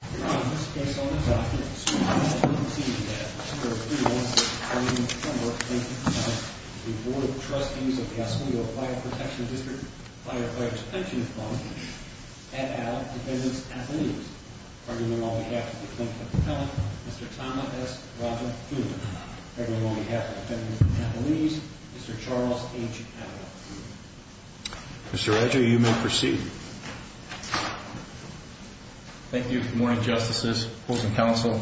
at Allen Defendant's Athletes. Pardon me on behalf of the Clinic of Appellant, Mr. Thomas S. Rodgers, Jr. Pardon me on behalf of the Defendant's Athletes, Mr. Charles H. Allen, Jr. Mr. Roger, you may proceed. Good morning, Mr. Chairman. Good morning, Justices, Courts and Counsel.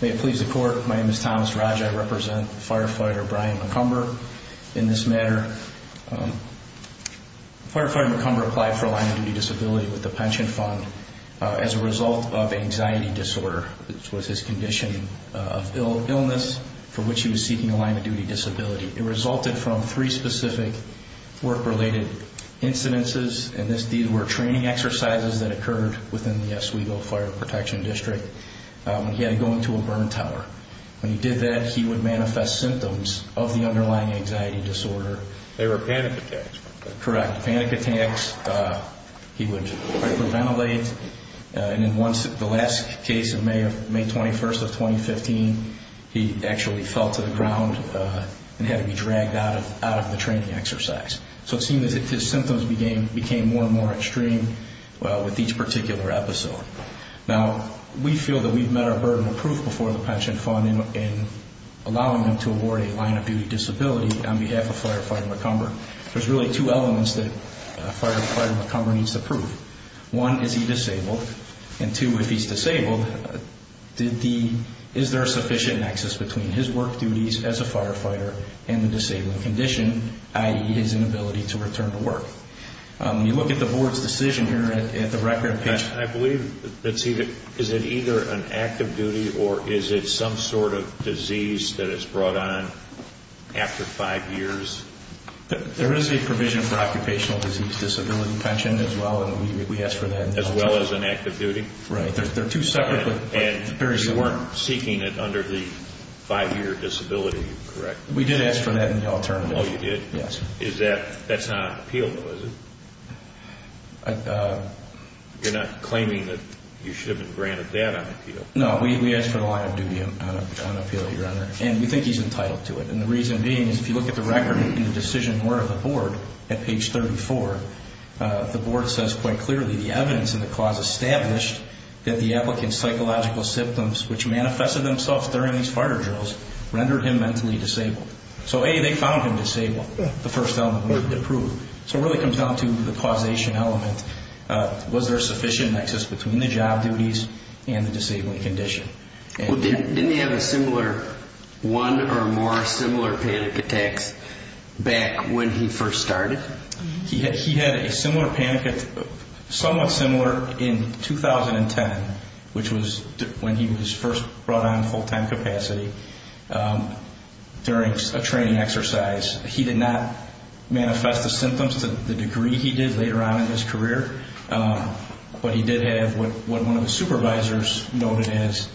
May it please the Court, my name is Thomas Rodgers. I represent Firefighter Brian McCumber in this matter. Firefighter McCumber applied for a line-of-duty disability with the pension fund as a result of anxiety disorder. This was his condition of illness for which he was seeking a line-of-duty disability. It resulted from three specific work-related incidences, and these were training exercises that occurred within the Oswego Fire Protection District. He had to go into a burn tower. When he did that, he would manifest symptoms of the underlying anxiety disorder. They were panic attacks. Correct, panic attacks. He would hyperventilate. And in the last case of May 21st of 2015, he actually fell to the ground and had to be dragged out of the training exercise. So it seemed that his symptoms became more and more extreme with each particular episode. Now, we feel that we've met our burden of proof before the pension fund in allowing him to award a line-of-duty disability on behalf of Firefighter McCumber. There's really two elements that Firefighter McCumber needs to prove. One, is he disabled? And two, if he's disabled, is there sufficient access between his work duties as a firefighter and the disabling condition, i.e., his inability to return to work? You look at the board's decision here at the record page. I believe it's either an active duty or is it some sort of disease that is brought on after five years? There is a provision for occupational disease disability pension as well, and we asked for that. As well as an active duty? Right. They're two separate but very similar. And you weren't seeking it under the five-year disability, correct? We did ask for that in the alternative. Oh, you did? Yes. That's not on appeal, though, is it? You're not claiming that you should have been granted that on appeal? No, we asked for the line-of-duty on appeal, Your Honor, and we think he's entitled to it. And the reason being is if you look at the record and the decision word of the board at page 34, the board says quite clearly the evidence in the clause established that the applicant's psychological symptoms, which manifested themselves during these fire drills, rendered him mentally disabled. So, A, they found him disabled, the first element they proved. So it really comes down to the causation element. Was there sufficient access between the job duties and the disabling condition? Didn't he have one or more similar panic attacks back when he first started? He had a similar panic attack, somewhat similar, in 2010, which was when he was first brought on full-time capacity during a training exercise. He did not manifest the symptoms to the degree he did later on in his career, but he did have what one of the supervisors noted as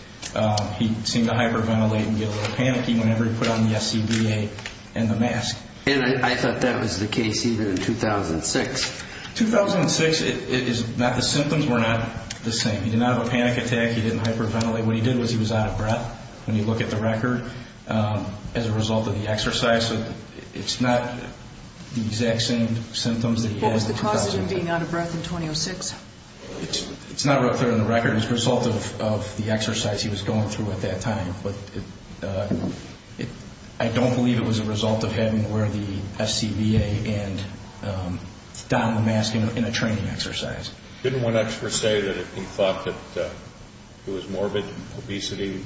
he seemed to hyperventilate and get a little panicky whenever he put on the SCBA and the mask. And I thought that was the case even in 2006. 2006 is not the symptoms were not the same. He did not have a panic attack. He didn't hyperventilate. What he did was he was out of breath when you look at the record. As a result of the exercise, it's not the exact same symptoms that he had in 2006. How is him being out of breath in 2006? It's not written on the record. It's a result of the exercise he was going through at that time. But I don't believe it was a result of having to wear the SCBA and don the mask in a training exercise. Didn't one expert say that he thought that it was morbid obesity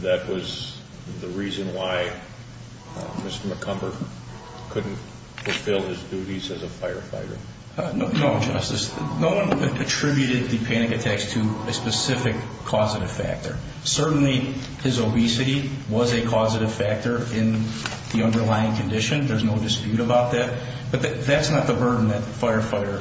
that was the reason why Mr. McCumber couldn't fulfill his duties as a firefighter? No, Justice. No one attributed the panic attacks to a specific causative factor. Certainly, his obesity was a causative factor in the underlying condition. There's no dispute about that. But that's not the burden that Firefighter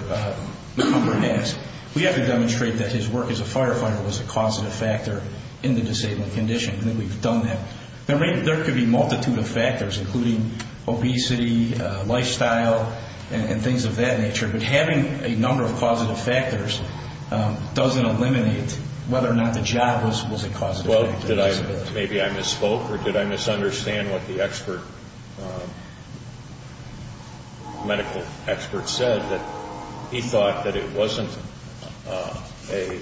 McCumber has. We have to demonstrate that his work as a firefighter was a causative factor in the disabled condition, and that we've done that. There could be a multitude of factors, including obesity, lifestyle, and things of that nature, but having a number of causative factors doesn't eliminate whether or not the job was a causative factor. Maybe I misspoke, or did I misunderstand what the expert, medical expert said, that he thought that it wasn't an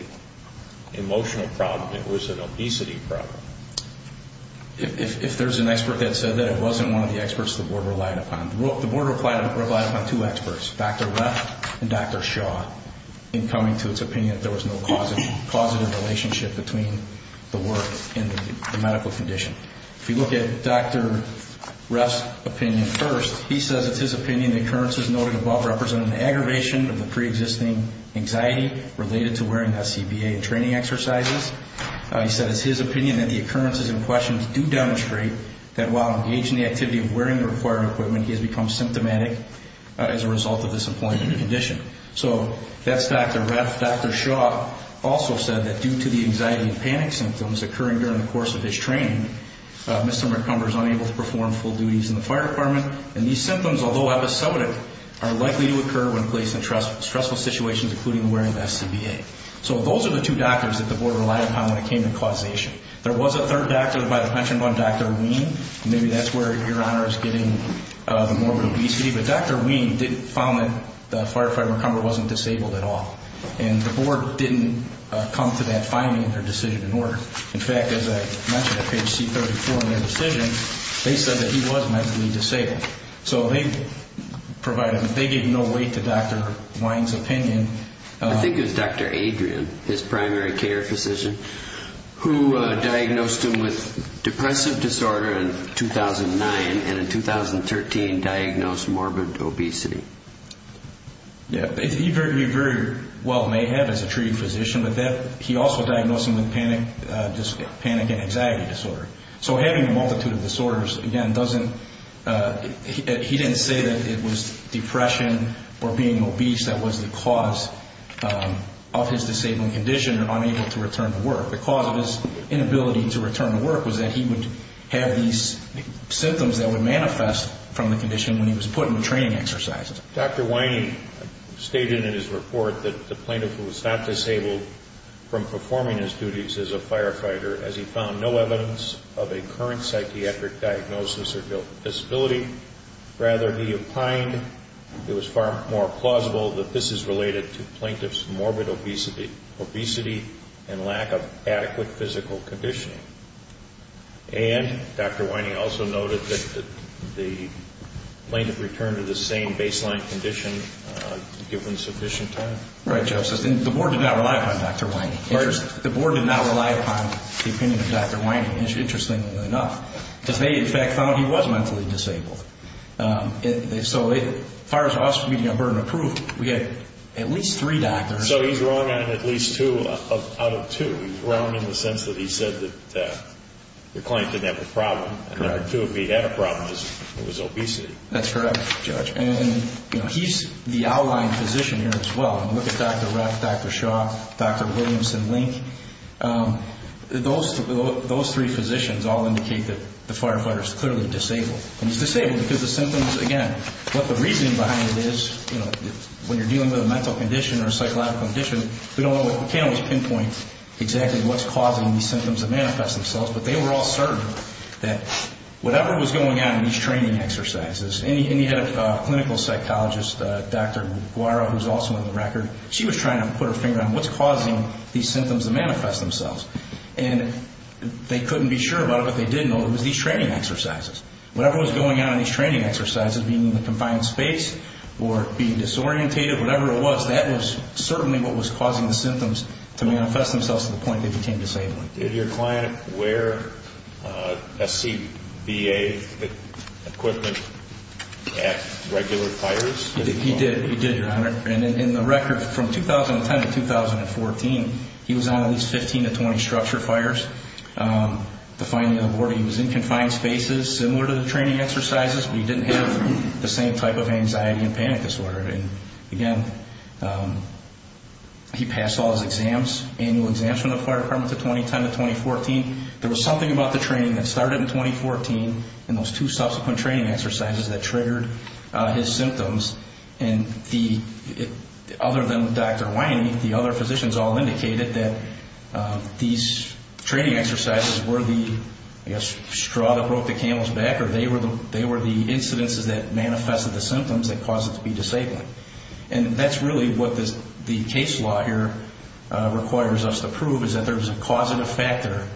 emotional problem, it was an obesity problem? If there's an expert that said that, it wasn't one of the experts the Board relied upon. The Board relied upon two experts, Dr. Reff and Dr. Shaw, in coming to its opinion that there was no causative relationship between the work and the medical condition. If you look at Dr. Reff's opinion first, he says it's his opinion the occurrences noted above represent an aggravation of the preexisting anxiety related to wearing the CBA and training exercises. He says it's his opinion that the occurrences in question do demonstrate that while engaging in the activity of wearing the required equipment, he has become symptomatic as a result of this employment condition. So that's Dr. Reff. Dr. Shaw also said that due to the anxiety and panic symptoms occurring during the course of his training, Mr. McCumber is unable to perform full duties in the fire department, and these symptoms, although episodic, are likely to occur when placed in stressful situations, including wearing the CBA. So those are the two doctors that the Board relied upon when it came to causation. There was a third doctor by the pension fund, Dr. Ween, and maybe that's where Your Honor is getting the morbid obesity, but Dr. Ween found that the firefighter McCumber wasn't disabled at all, and the Board didn't come to that finding or decision in order. In fact, as I mentioned at page C34 in their decision, they said that he was mentally disabled. So they gave no weight to Dr. Ween's opinion. I think it was Dr. Adrian, his primary care physician, who diagnosed him with depressive disorder in 2009 and in 2013 diagnosed morbid obesity. He very well may have as a treated physician, but he also diagnosed him with panic and anxiety disorder. So having a multitude of disorders, again, he didn't say that it was depression or being obese that was the cause of his disabled condition or unable to return to work. The cause of his inability to return to work was that he would have these symptoms that would manifest from the condition when he was put into training exercises. Dr. Weine stated in his report that the plaintiff was not disabled from performing his duties as a firefighter as he found no evidence of a current psychiatric diagnosis or disability. Rather, he opined it was far more plausible that this is related to plaintiff's morbid obesity and lack of adequate physical conditioning. And Dr. Weine also noted that the plaintiff returned to the same baseline condition given sufficient time. Right, Justice. And the Board did not rely upon Dr. Weine. The Board did not rely upon the opinion of Dr. Weine, interestingly enough, because they, in fact, found he was mentally disabled. So as far as us meeting on burden of proof, we had at least three doctors. So he's wrong on at least two out of two. He's wrong in the sense that he said that the client didn't have a problem. Correct. And number two, if he had a problem, it was obesity. That's correct, Judge. And, you know, he's the outlying physician here as well. Look at Dr. Rapp, Dr. Shaw, Dr. Williams, and Link. Those three physicians all indicate that the firefighter is clearly disabled. And he's disabled because the symptoms, again, what the reasoning behind it is, you know, when you're dealing with a mental condition or a psychological condition, we can't always pinpoint exactly what's causing these symptoms to manifest themselves, but they were all certain that whatever was going on in these training exercises, and he had a clinical psychologist, Dr. Guara, who's also on the record, she was trying to put her finger on what's causing these symptoms to manifest themselves. And they couldn't be sure about it, but they did know it was these training exercises. Whatever was going on in these training exercises, being in a confined space or being disorientated, whatever it was, that was certainly what was causing the symptoms to manifest themselves to the point they became disabled. Did your client wear SCBA equipment at regular fires? He did. He did, Your Honor. And in the record from 2010 to 2014, he was on at least 15 to 20 structure fires. The finding on the board, he was in confined spaces similar to the training exercises, but he didn't have the same type of anxiety and panic disorder. And, again, he passed all his exams, annual exams from the fire department from 2010 to 2014. There was something about the training that started in 2014 and those two subsequent training exercises that triggered his symptoms. And other than Dr. Whiney, the other physicians all indicated that these training exercises were the, I guess, straw that broke the camel's back, or they were the incidences that manifested the symptoms that caused him to be disabled. And that's really what the case law here requires us to prove, is that there's a causative factor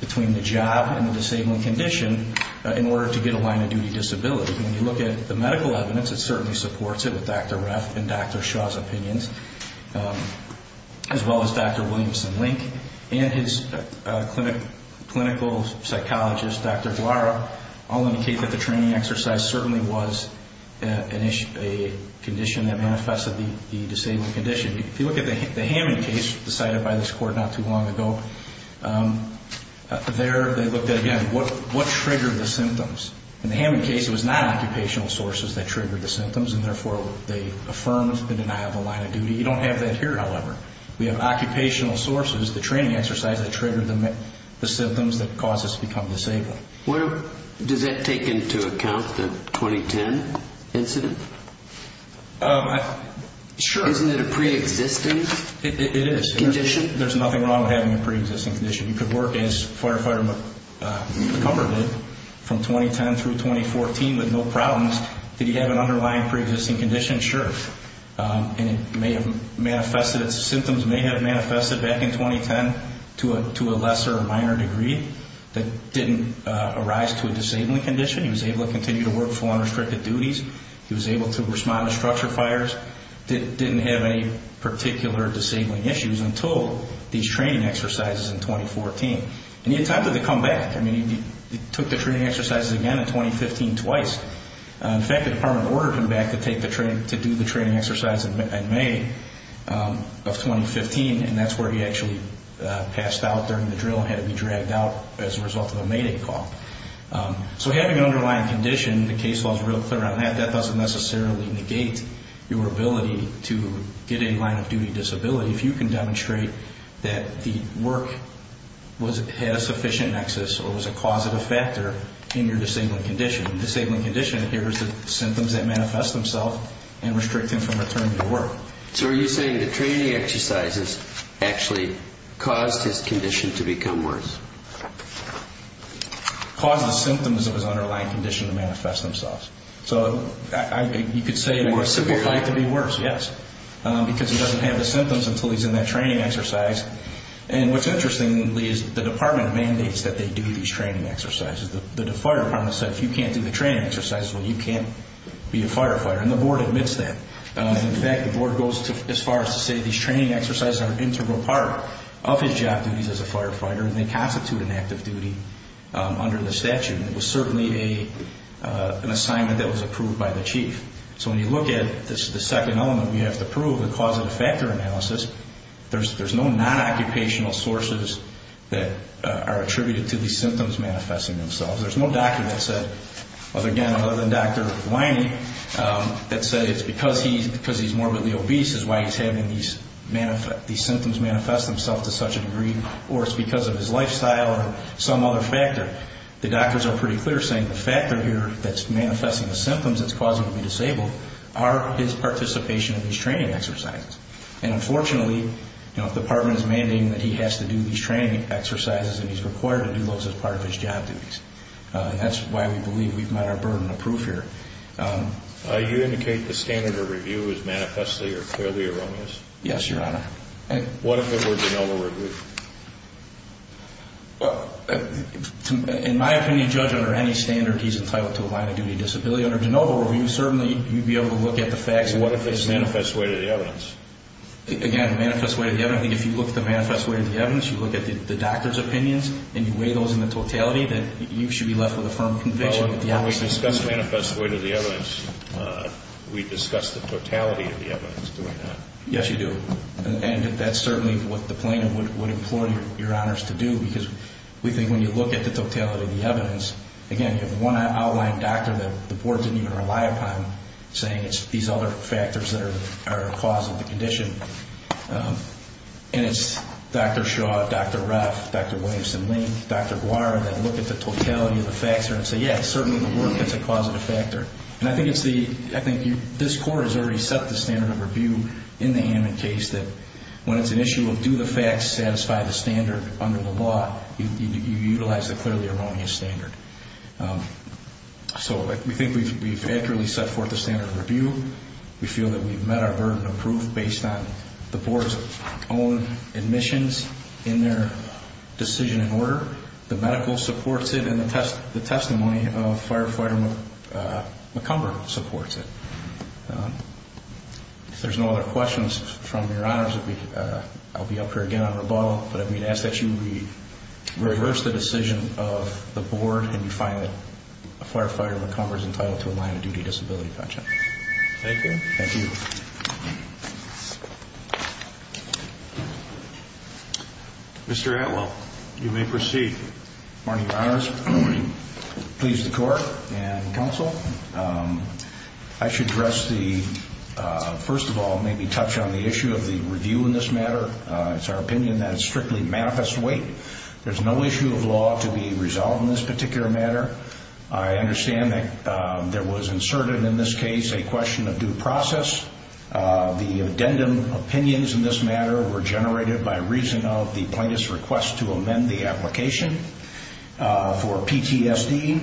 between the job and the disabled condition in order to get a line-of-duty disability. When you look at the medical evidence, it certainly supports it with Dr. Reff and Dr. Shaw's opinions, as well as Dr. Williamson-Link and his clinical psychologist, Dr. Guara, all indicate that the training exercise certainly was a condition that manifested the disabled condition. If you look at the Hammond case decided by this court not too long ago, there they looked at, again, what triggered the symptoms. In the Hammond case, it was non-occupational sources that triggered the symptoms and, therefore, they affirmed the denial of the line-of-duty. You don't have that here, however. We have occupational sources, the training exercise, that triggered the symptoms that caused us to become disabled. Does that take into account the 2010 incident? Sure. Isn't it a pre-existing condition? It is. There's nothing wrong with having a pre-existing condition. You could work as Firefighter McCumber did from 2010 through 2014 with no problems Did he have an underlying pre-existing condition? Sure. Symptoms may have manifested back in 2010 to a lesser or minor degree that didn't arise to a disabling condition. He was able to continue to work full unrestricted duties. He was able to respond to structure fires. Didn't have any particular disabling issues until these training exercises in 2014. And he attempted to come back. I mean, he took the training exercises again in 2015 twice. In fact, the department ordered him back to do the training exercise in May of 2015, and that's where he actually passed out during the drill and had to be dragged out as a result of a Mayday call. So having an underlying condition, the case law is real clear on that. That doesn't necessarily negate your ability to get a line-of-duty disability. If you can demonstrate that the work had a sufficient nexus or was a causative factor in your disabling condition, the disabling condition here is the symptoms that manifest themselves and restrict him from returning to work. So are you saying the training exercises actually caused his condition to become worse? Caused the symptoms of his underlying condition to manifest themselves. So you could say more simply it had to be worse, yes. Because he doesn't have the symptoms until he's in that training exercise. And what's interesting, Lee, is the department mandates that they do these training exercises. The fire department said if you can't do the training exercises, well, you can't be a firefighter. And the board admits that. In fact, the board goes as far as to say these training exercises are an integral part of his job duties as a firefighter, and they constitute an active duty under the statute. It was certainly an assignment that was approved by the chief. So when you look at the second element we have to prove, the causative factor analysis, there's no non-occupational sources that are attributed to these symptoms manifesting themselves. There's no doctor that said, again, other than Dr. Whiney, that said it's because he's morbidly obese is why he's having these symptoms manifest themselves to such a degree, or it's because of his lifestyle or some other factor. The doctors are pretty clear saying the factor here that's manifesting the symptoms that's causing him to be disabled are his participation in these training exercises. And unfortunately, the department is mandating that he has to do these training exercises, and he's required to do those as part of his job duties. That's why we believe we've met our burden of proof here. Do you indicate the standard of review is manifestly or clearly erroneous? Yes, Your Honor. What if it were general review? In my opinion, Judge, under any standard, he's entitled to a line of duty disability. Under de novo review, certainly you'd be able to look at the facts. What if it's manifest way to the evidence? Again, manifest way to the evidence. If you look at the manifest way to the evidence, you look at the doctor's opinions, and you weigh those in the totality, then you should be left with a firm conviction. When we discuss manifest way to the evidence, we discuss the totality of the evidence, do we not? Yes, you do. And that's certainly what the plaintiff would implore Your Honors to do, because we think when you look at the totality of the evidence, again, if one outlined doctor that the board didn't even rely upon, saying it's these other factors that are the cause of the condition, and it's Dr. Shaw, Dr. Ruff, Dr. Williamson-Link, Dr. Guare, that look at the totality of the facts and say, yes, certainly the work is a causative factor. And I think this court has already set the standard of review in the Hammond case that when it's an issue of do the facts satisfy the standard under the law, you utilize the clearly erroneous standard. So we think we've accurately set forth the standard of review. We feel that we've met our burden of proof based on the board's own admissions in their decision and order. The medical supports it, and the testimony of Firefighter McCumber supports it. If there's no other questions from Your Honors, I'll be up here again on rebuttal, but I'm going to ask that you reverse the decision of the board and you find that Firefighter McCumber is entitled to a line of duty disability pension. Thank you. Thank you. Mr. Atwell, you may proceed. Good morning, Your Honors. Good morning. Please, the court and counsel, I should address the, first of all, maybe touch on the issue of the review in this matter. It's our opinion that it's strictly manifest weight. There's no issue of law to be resolved in this particular matter. I understand that there was inserted in this case a question of due process. The addendum opinions in this matter were generated by reason of the plaintiff's request to amend the application for PTSD.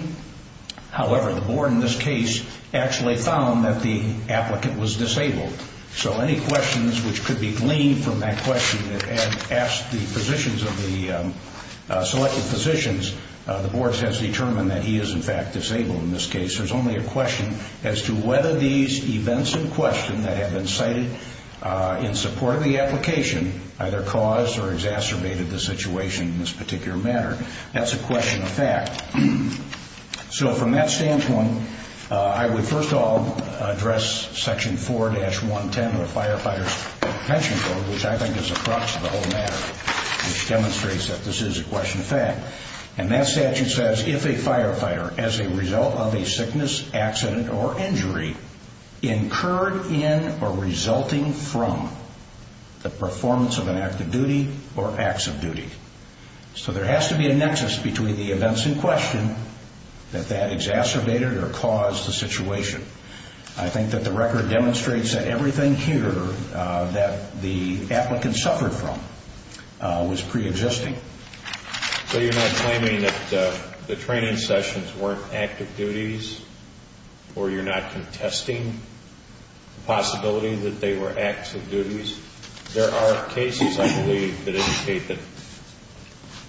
However, the board in this case actually found that the applicant was disabled. So any questions which could be gleaned from that question and asked the positions of the selected physicians, the board has determined that he is, in fact, disabled in this case. There's only a question as to whether these events in question that have been cited in support of the application either caused or exacerbated the situation in this particular matter. That's a question of fact. So from that standpoint, I would, first of all, address Section 4-110 of the Firefighter's Pension Code, which I think is the crux of the whole matter, which demonstrates that this is a question of fact. And that statute says, if a firefighter, as a result of a sickness, accident, or injury, incurred in or resulting from the performance of an act of duty or acts of duty. So there has to be a nexus between the events in question that that exacerbated or caused the situation. I think that the record demonstrates that everything here that the applicant suffered from was preexisting. So you're not claiming that the training sessions weren't active duties, or you're not contesting the possibility that they were acts of duties? There are cases, I believe, that indicate that,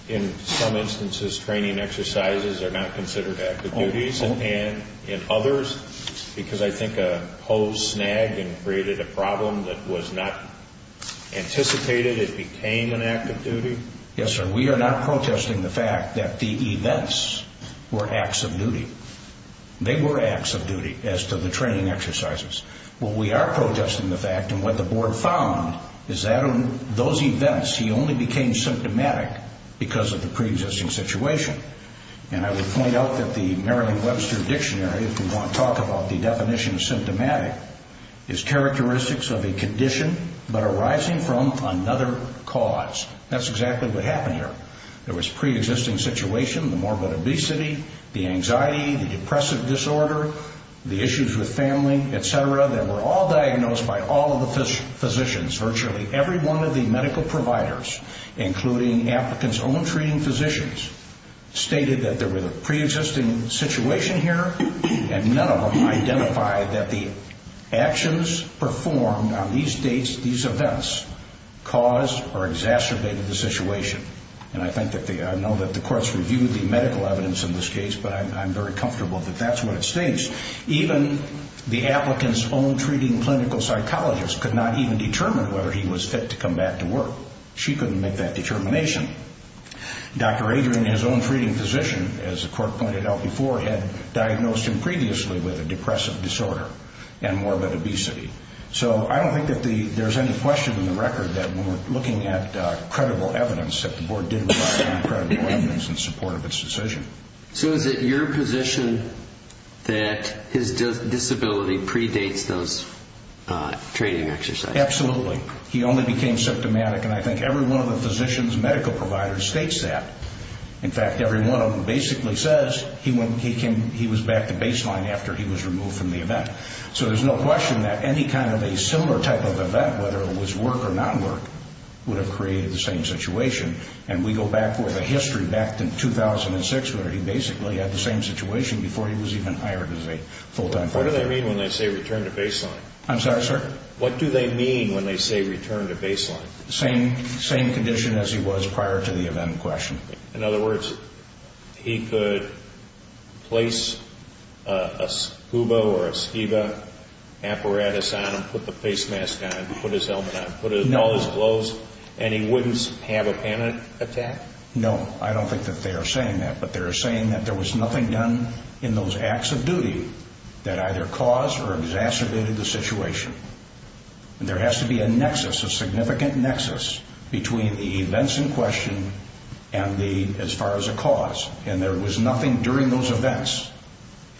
in some instances, training exercises are not considered active duties, and in others, because I think a hose snagged and created a problem that was not anticipated. It became an act of duty. Yes, sir. We are not protesting the fact that the events were acts of duty. They were acts of duty as to the training exercises. What we are protesting the fact, and what the Board found, is that in those events, he only became symptomatic because of the preexisting situation. And I would point out that the Maryland Webster Dictionary, if we want to talk about the definition of symptomatic, is characteristics of a condition but arising from another cause. That's exactly what happened here. There was preexisting situation, the morbid obesity, the anxiety, the depressive disorder, the issues with family, et cetera, that were all diagnosed by all of the physicians, virtually every one of the medical providers, including applicants' own treating physicians, stated that there was a preexisting situation here, and none of them identified that the actions performed on these dates, these events, caused or exacerbated the situation. And I know that the courts reviewed the medical evidence in this case, but I'm very comfortable that that's what it states. Even the applicant's own treating clinical psychologist could not even determine whether he was fit to come back to work. She couldn't make that determination. Dr. Adrian, his own treating physician, as the court pointed out before, had diagnosed him previously with a depressive disorder and morbid obesity. So I don't think that there's any question in the record that when we're looking at credible evidence, that the Board did rely on credible evidence in support of its decision. So is it your position that his disability predates those training exercises? Absolutely. He only became symptomatic, and I think every one of the physician's medical providers states that. In fact, every one of them basically says he was back to baseline after he was removed from the event. So there's no question that any kind of a similar type of event, whether it was work or not work, would have created the same situation. And we go back with a history back to 2006, where he basically had the same situation before he was even hired as a full-time physician. What do they mean when they say return to baseline? I'm sorry, sir? What do they mean when they say return to baseline? Same condition as he was prior to the event in question. In other words, he could place a scuba or a scuba apparatus on him, put the face mask on him, put his helmet on him, put on all his clothes, and he wouldn't have a panic attack? No, I don't think that they are saying that. But they are saying that there was nothing done in those acts of duty that either caused or exacerbated the situation. And there has to be a nexus, a significant nexus, between the events in question and as far as a cause. And there was nothing during those events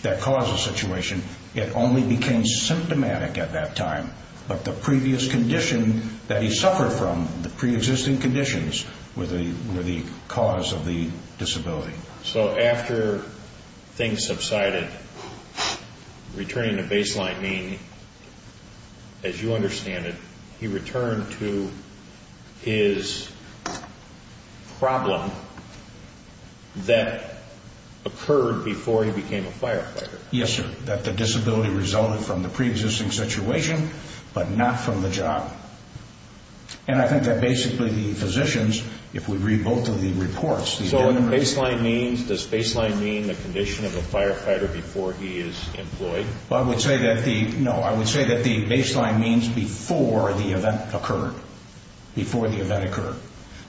that caused the situation. It only became symptomatic at that time. But the previous condition that he suffered from, the preexisting conditions, were the cause of the disability. So after things subsided, returning to baseline mean, as you understand it, he returned to his problem that occurred before he became a firefighter? Yes, sir, that the disability resulted from the preexisting situation, but not from the job. And I think that basically the physicians, if we read both of the reports... So what baseline means, does baseline mean the condition of a firefighter before he is employed? Well, I would say that the baseline means before the event occurred, before the event occurred.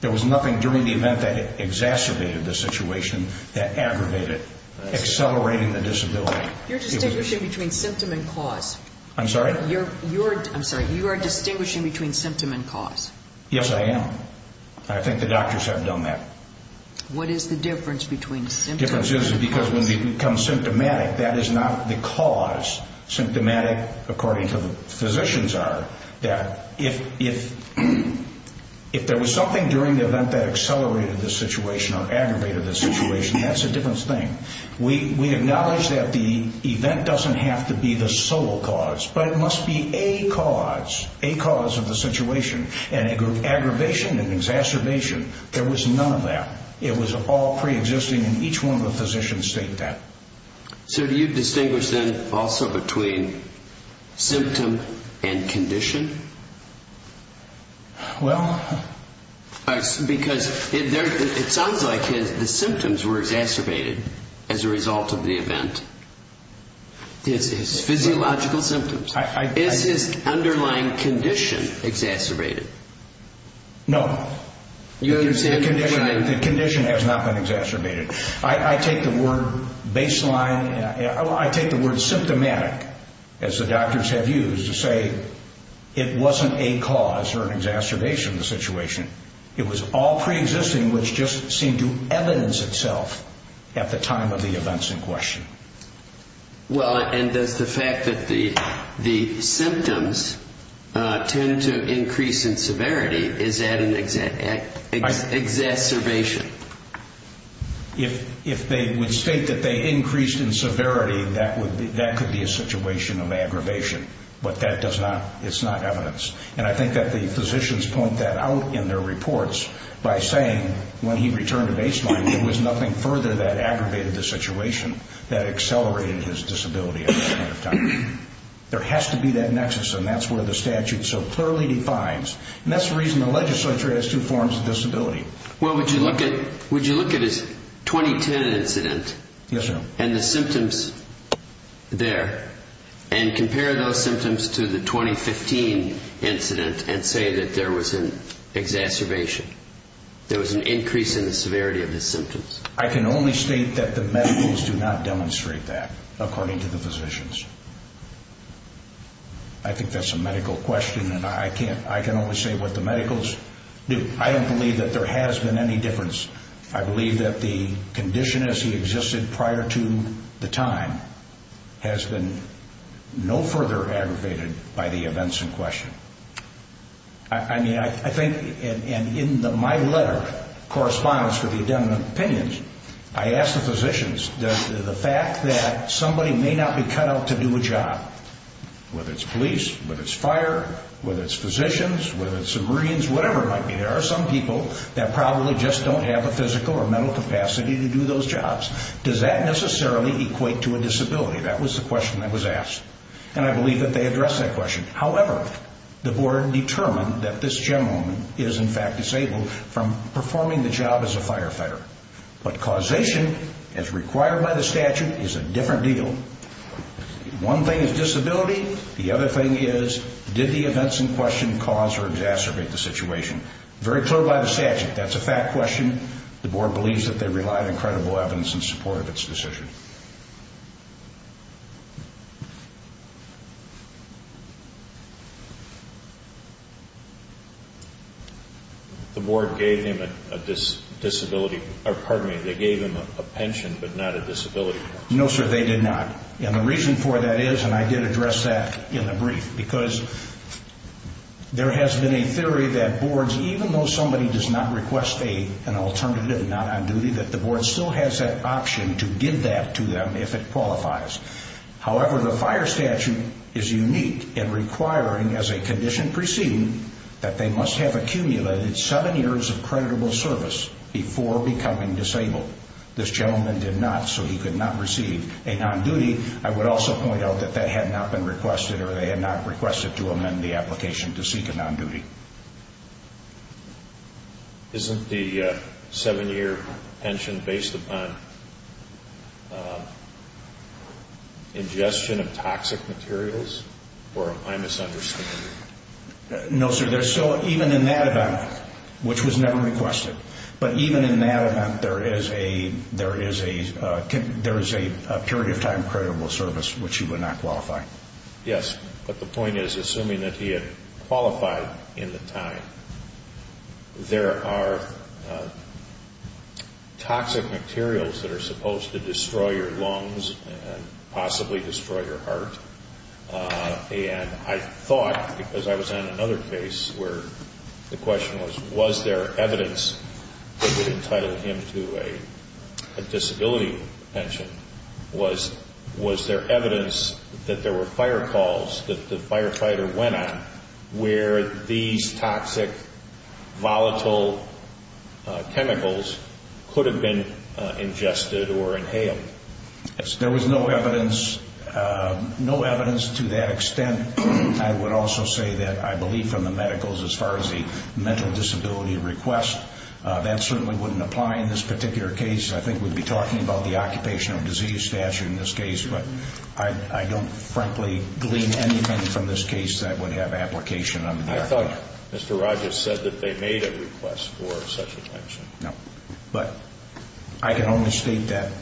There was nothing during the event that exacerbated the situation, that aggravated it, accelerating the disability. You're distinguishing between symptom and cause. I'm sorry? I'm sorry, you are distinguishing between symptom and cause. Yes, I am. I think the doctors have done that. What is the difference between symptom and cause? The difference is because when you become symptomatic, that is not the cause. Symptomatic, according to the physicians, are that if there was something during the event that accelerated the situation or aggravated the situation, that's a different thing. We acknowledge that the event doesn't have to be the sole cause, but it must be a cause, a cause of the situation. And it could be aggravation and exacerbation. There was none of that. It was all preexisting, and each one of the physicians state that. So do you distinguish, then, also between symptom and condition? Well... Because it sounds like the symptoms were exacerbated as a result of the event. His physiological symptoms. Is his underlying condition exacerbated? No. The condition has not been exacerbated. I take the word symptomatic, as the doctors have used, to say it wasn't a cause or an exacerbation of the situation. It was all preexisting, which just seemed to evidence itself at the time of the events in question. Well, and does the fact that the symptoms tend to increase in severity, is that an exacerbation? If they would state that they increased in severity, that could be a situation of aggravation. But that does not, it's not evidence. And I think that the physicians point that out in their reports by saying, when he returned to baseline, there was nothing further that aggravated the situation that accelerated his disability at that point of time. There has to be that nexus, and that's where the statute so clearly defines. And that's the reason the legislature has two forms of disability. Well, would you look at his 2010 incident and the symptoms there, and compare those symptoms to the 2015 incident and say that there was an exacerbation, there was an increase in the severity of the symptoms? I can only state that the medicals do not demonstrate that, according to the physicians. I think that's a medical question, and I can only say what the medicals do. I don't believe that there has been any difference. I believe that the condition as he existed prior to the time has been no further aggravated by the events in question. I mean, I think, and in my letter, correspondence for the Addendum of Opinions, I asked the physicians, does the fact that somebody may not be cut out to do a job, whether it's police, whether it's fire, whether it's physicians, whether it's the Marines, whatever it might be, there are some people that probably just don't have the physical or mental capacity to do those jobs, does that necessarily equate to a disability? That was the question that was asked, and I believe that they addressed that question. However, the board determined that this gentleman is, in fact, disabled from performing the job as a firefighter. But causation, as required by the statute, is a different deal. One thing is disability. The other thing is, did the events in question cause or exacerbate the situation? Very clear by the statute. That's a fact question. The board believes that they relied on credible evidence in support of its decision. The board gave him a disability, or pardon me, they gave him a pension but not a disability. No, sir, they did not. And the reason for that is, and I did address that in the brief, because there has been a theory that boards, even though somebody does not request an alternative, not on duty, that the board still has that option to give that to them if it qualifies. However, the fire statute is unique in requiring, as a condition preceding, that they must have accumulated seven years of creditable service before becoming disabled. This gentleman did not, so he could not receive a non-duty. I would also point out that that had not been requested, or they had not requested to amend the application to seek a non-duty. Isn't the seven-year pension based upon ingestion of toxic materials, or am I misunderstanding? No, sir, there's still, even in that event, which was never requested, but even in that event, there is a period of time creditable service which he would not qualify. Yes, but the point is, assuming that he had qualified in the time, there are toxic materials that are supposed to destroy your lungs and possibly destroy your heart. I thought, because I was on another case where the question was, was there evidence that would entitle him to a disability pension? Was there evidence that there were fire calls that the firefighter went on where these toxic, volatile chemicals could have been ingested or inhaled? There was no evidence to that extent. I would also say that I believe from the medicals, as far as the mental disability request, that certainly wouldn't apply in this particular case. I think we'd be talking about the occupational disease statute in this case, but I don't frankly glean anything from this case that would have application under there. I thought Mr. Rogers said that they made a request for such a pension. But I can only state that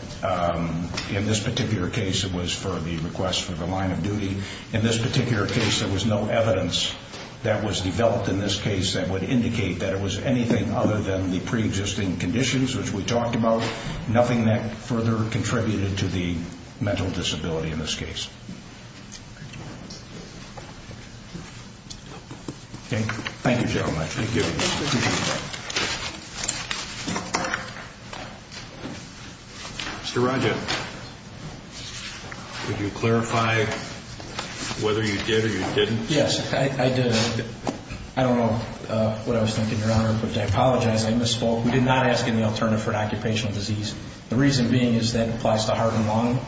in this particular case, it was for the request for the line of duty. In this particular case, there was no evidence that was developed in this case that would indicate that it was anything other than the preexisting conditions which we talked about, nothing that further contributed to the mental disability in this case. Thank you very much. Thank you. Mr. Rogers, would you clarify whether you did or you didn't? Yes, I did. I don't know what I was thinking, Your Honor, but I apologize. I misspoke. We did not ask any alternative for an occupational disease. The reason being is that it applies to heart and lung,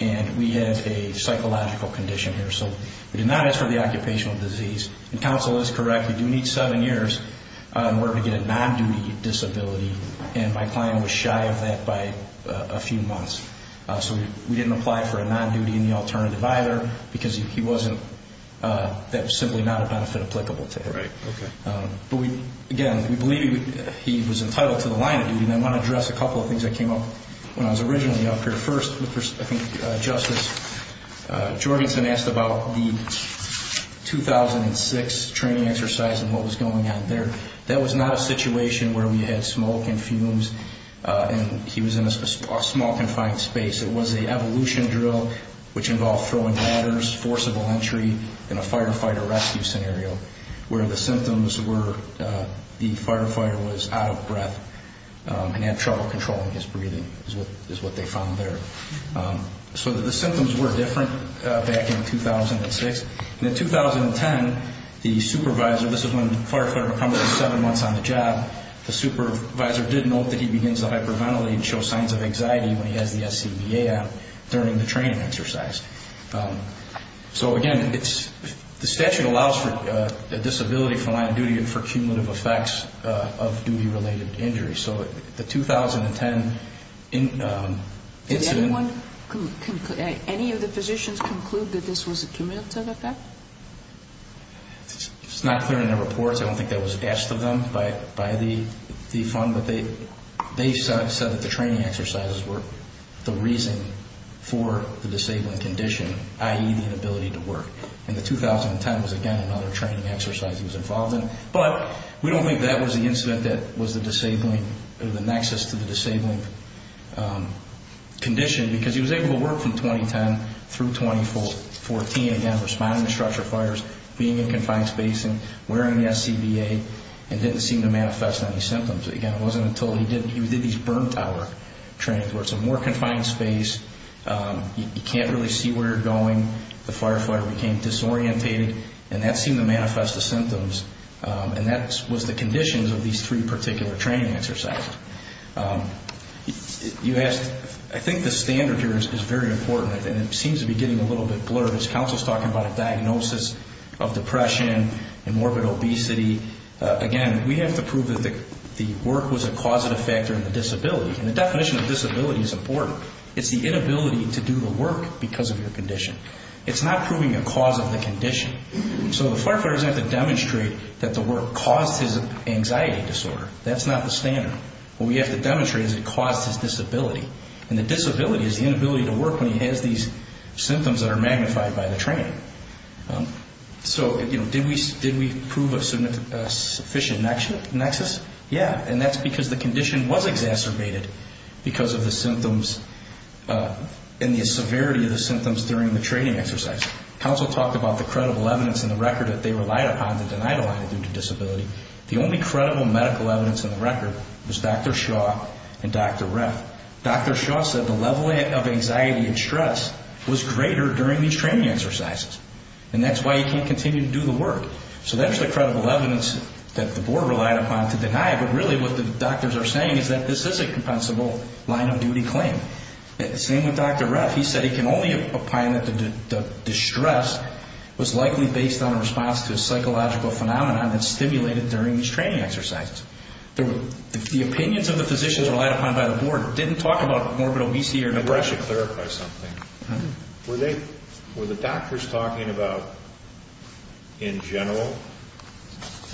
and we have a psychological condition here. So we did not ask for the occupational disease. And counsel is correct. You do need seven years in order to get a non-duty disability, and my client was shy of that by a few months. So we didn't apply for a non-duty in the alternative either because that was simply not a benefit applicable to him. Right, okay. But, again, we believe he was entitled to the line of duty. And I want to address a couple of things that came up when I was originally up here. First, I think Justice Jorgensen asked about the 2006 training exercise and what was going on there. That was not a situation where we had smoke and fumes, and he was in a small, confined space. It was an evolution drill which involved throwing ladders, forcible entry, and a firefighter rescue scenario where the symptoms were that the firefighter was out of breath and had trouble controlling his breathing is what they found there. So the symptoms were different back in 2006. And in 2010, the supervisor, this is when the firefighter becomes seven months on the job, the supervisor did note that he begins to hyperventilate and show signs of anxiety when he has the SCBA app during the training exercise. So, again, the statute allows for disability from line of duty and for cumulative effects of duty-related injuries. So the 2010 incident... Did anyone, any of the physicians conclude that this was a cumulative effect? It's not clear in their reports. I don't think that was asked of them by the fund. They said that the training exercises were the reason for the disabling condition, i.e., the inability to work. And the 2010 was, again, another training exercise he was involved in. But we don't think that was the incident that was the disabling, the nexus to the disabling condition because he was able to work from 2010 through 2014, again, responding to structure fires, being in confined spacing, wearing the SCBA, and didn't seem to manifest any symptoms. Again, it wasn't until he did these burn tower trainings where it's a more confined space, you can't really see where you're going, the firefighter became disorientated, and that seemed to manifest the symptoms. And that was the conditions of these three particular training exercises. You asked, I think the standard here is very important, and it seems to be getting a little bit blurred. As counsel is talking about a diagnosis of depression and morbid obesity, again, we have to prove that the work was a causative factor in the disability. And the definition of disability is important. It's the inability to do the work because of your condition. It's not proving a cause of the condition. So the firefighter doesn't have to demonstrate that the work caused his anxiety disorder. That's not the standard. What we have to demonstrate is it caused his disability. And the disability is the inability to work when he has these symptoms that are magnified by the training. So, you know, did we prove a sufficient nexus? Yeah, and that's because the condition was exacerbated because of the symptoms and the severity of the symptoms during the training exercise. Counsel talked about the credible evidence in the record that they relied upon that denied a line-of-duty disability. The only credible medical evidence in the record was Dr. Shaw and Dr. Reth. Dr. Shaw said the level of anxiety and stress was greater during these training exercises, and that's why he can't continue to do the work. So that's the credible evidence that the board relied upon to deny, but really what the doctors are saying is that this is a compensable line-of-duty claim. Same with Dr. Reth. He said he can only opine that the distress was likely based on a response to a psychological phenomenon that stimulated during these training exercises. The opinions of the physicians relied upon by the board didn't talk about morbid obesity or depression. I should clarify something. Were the doctors talking about, in general,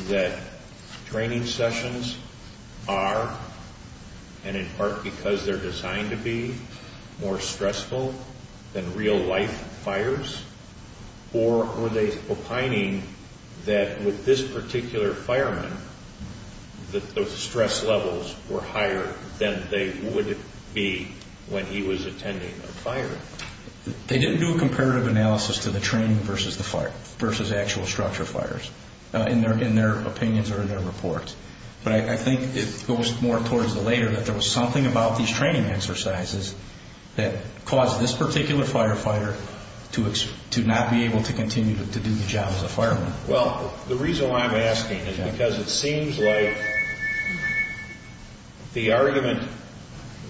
that training sessions are, and in part because they're designed to be, more stressful than real-life fires? Or were they opining that with this particular fireman, that the stress levels were higher than they would be when he was attending a fire? They didn't do a comparative analysis to the training versus actual structure fires, in their opinions or in their reports. But I think it goes more towards the later, that there was something about these training exercises that caused this particular firefighter to not be able to continue to do the job as a fireman. Well, the reason why I'm asking is because it seems like the argument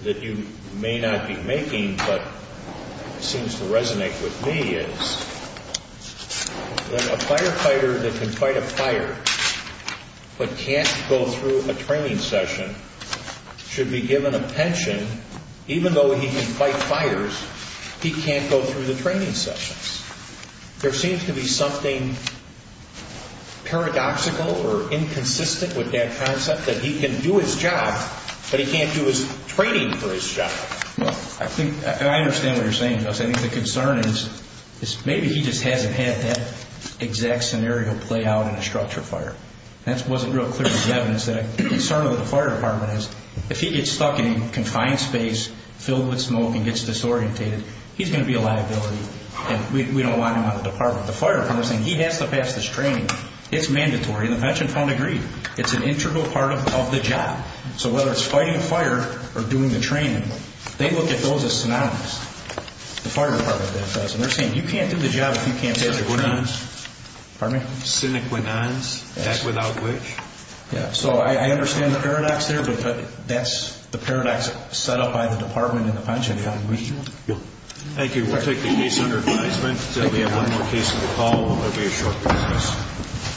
that you may not be making but seems to resonate with me is that a firefighter that can fight a fire but can't go through a training session should be given a pension, even though he can fight fires, he can't go through the training sessions. There seems to be something paradoxical or inconsistent with that concept, that he can do his job, but he can't do his training for his job. Well, I think, and I understand what you're saying, Gus. I think the concern is maybe he just hasn't had that exact scenario play out in a structure fire. That wasn't real clear as evidence. The concern of the fire department is if he gets stuck in a confined space filled with smoke and gets disorientated, he's going to be a liability, and we don't want him on the department. The fire department is saying he has to pass this training. It's mandatory, and the pension fund agreed. It's an integral part of the job. So whether it's fighting a fire or doing the training, they look at those as synonyms. The fire department does. They're saying you can't do the job if you can't pass the training. Synonyms? Pardon me? Synonyms, that's without which? Yeah, so I understand the paradox there, but that's the paradox set up by the department and the pension fund. Thank you. We'll take the case under advisement until we have one more case to recall. We'll have a short recess.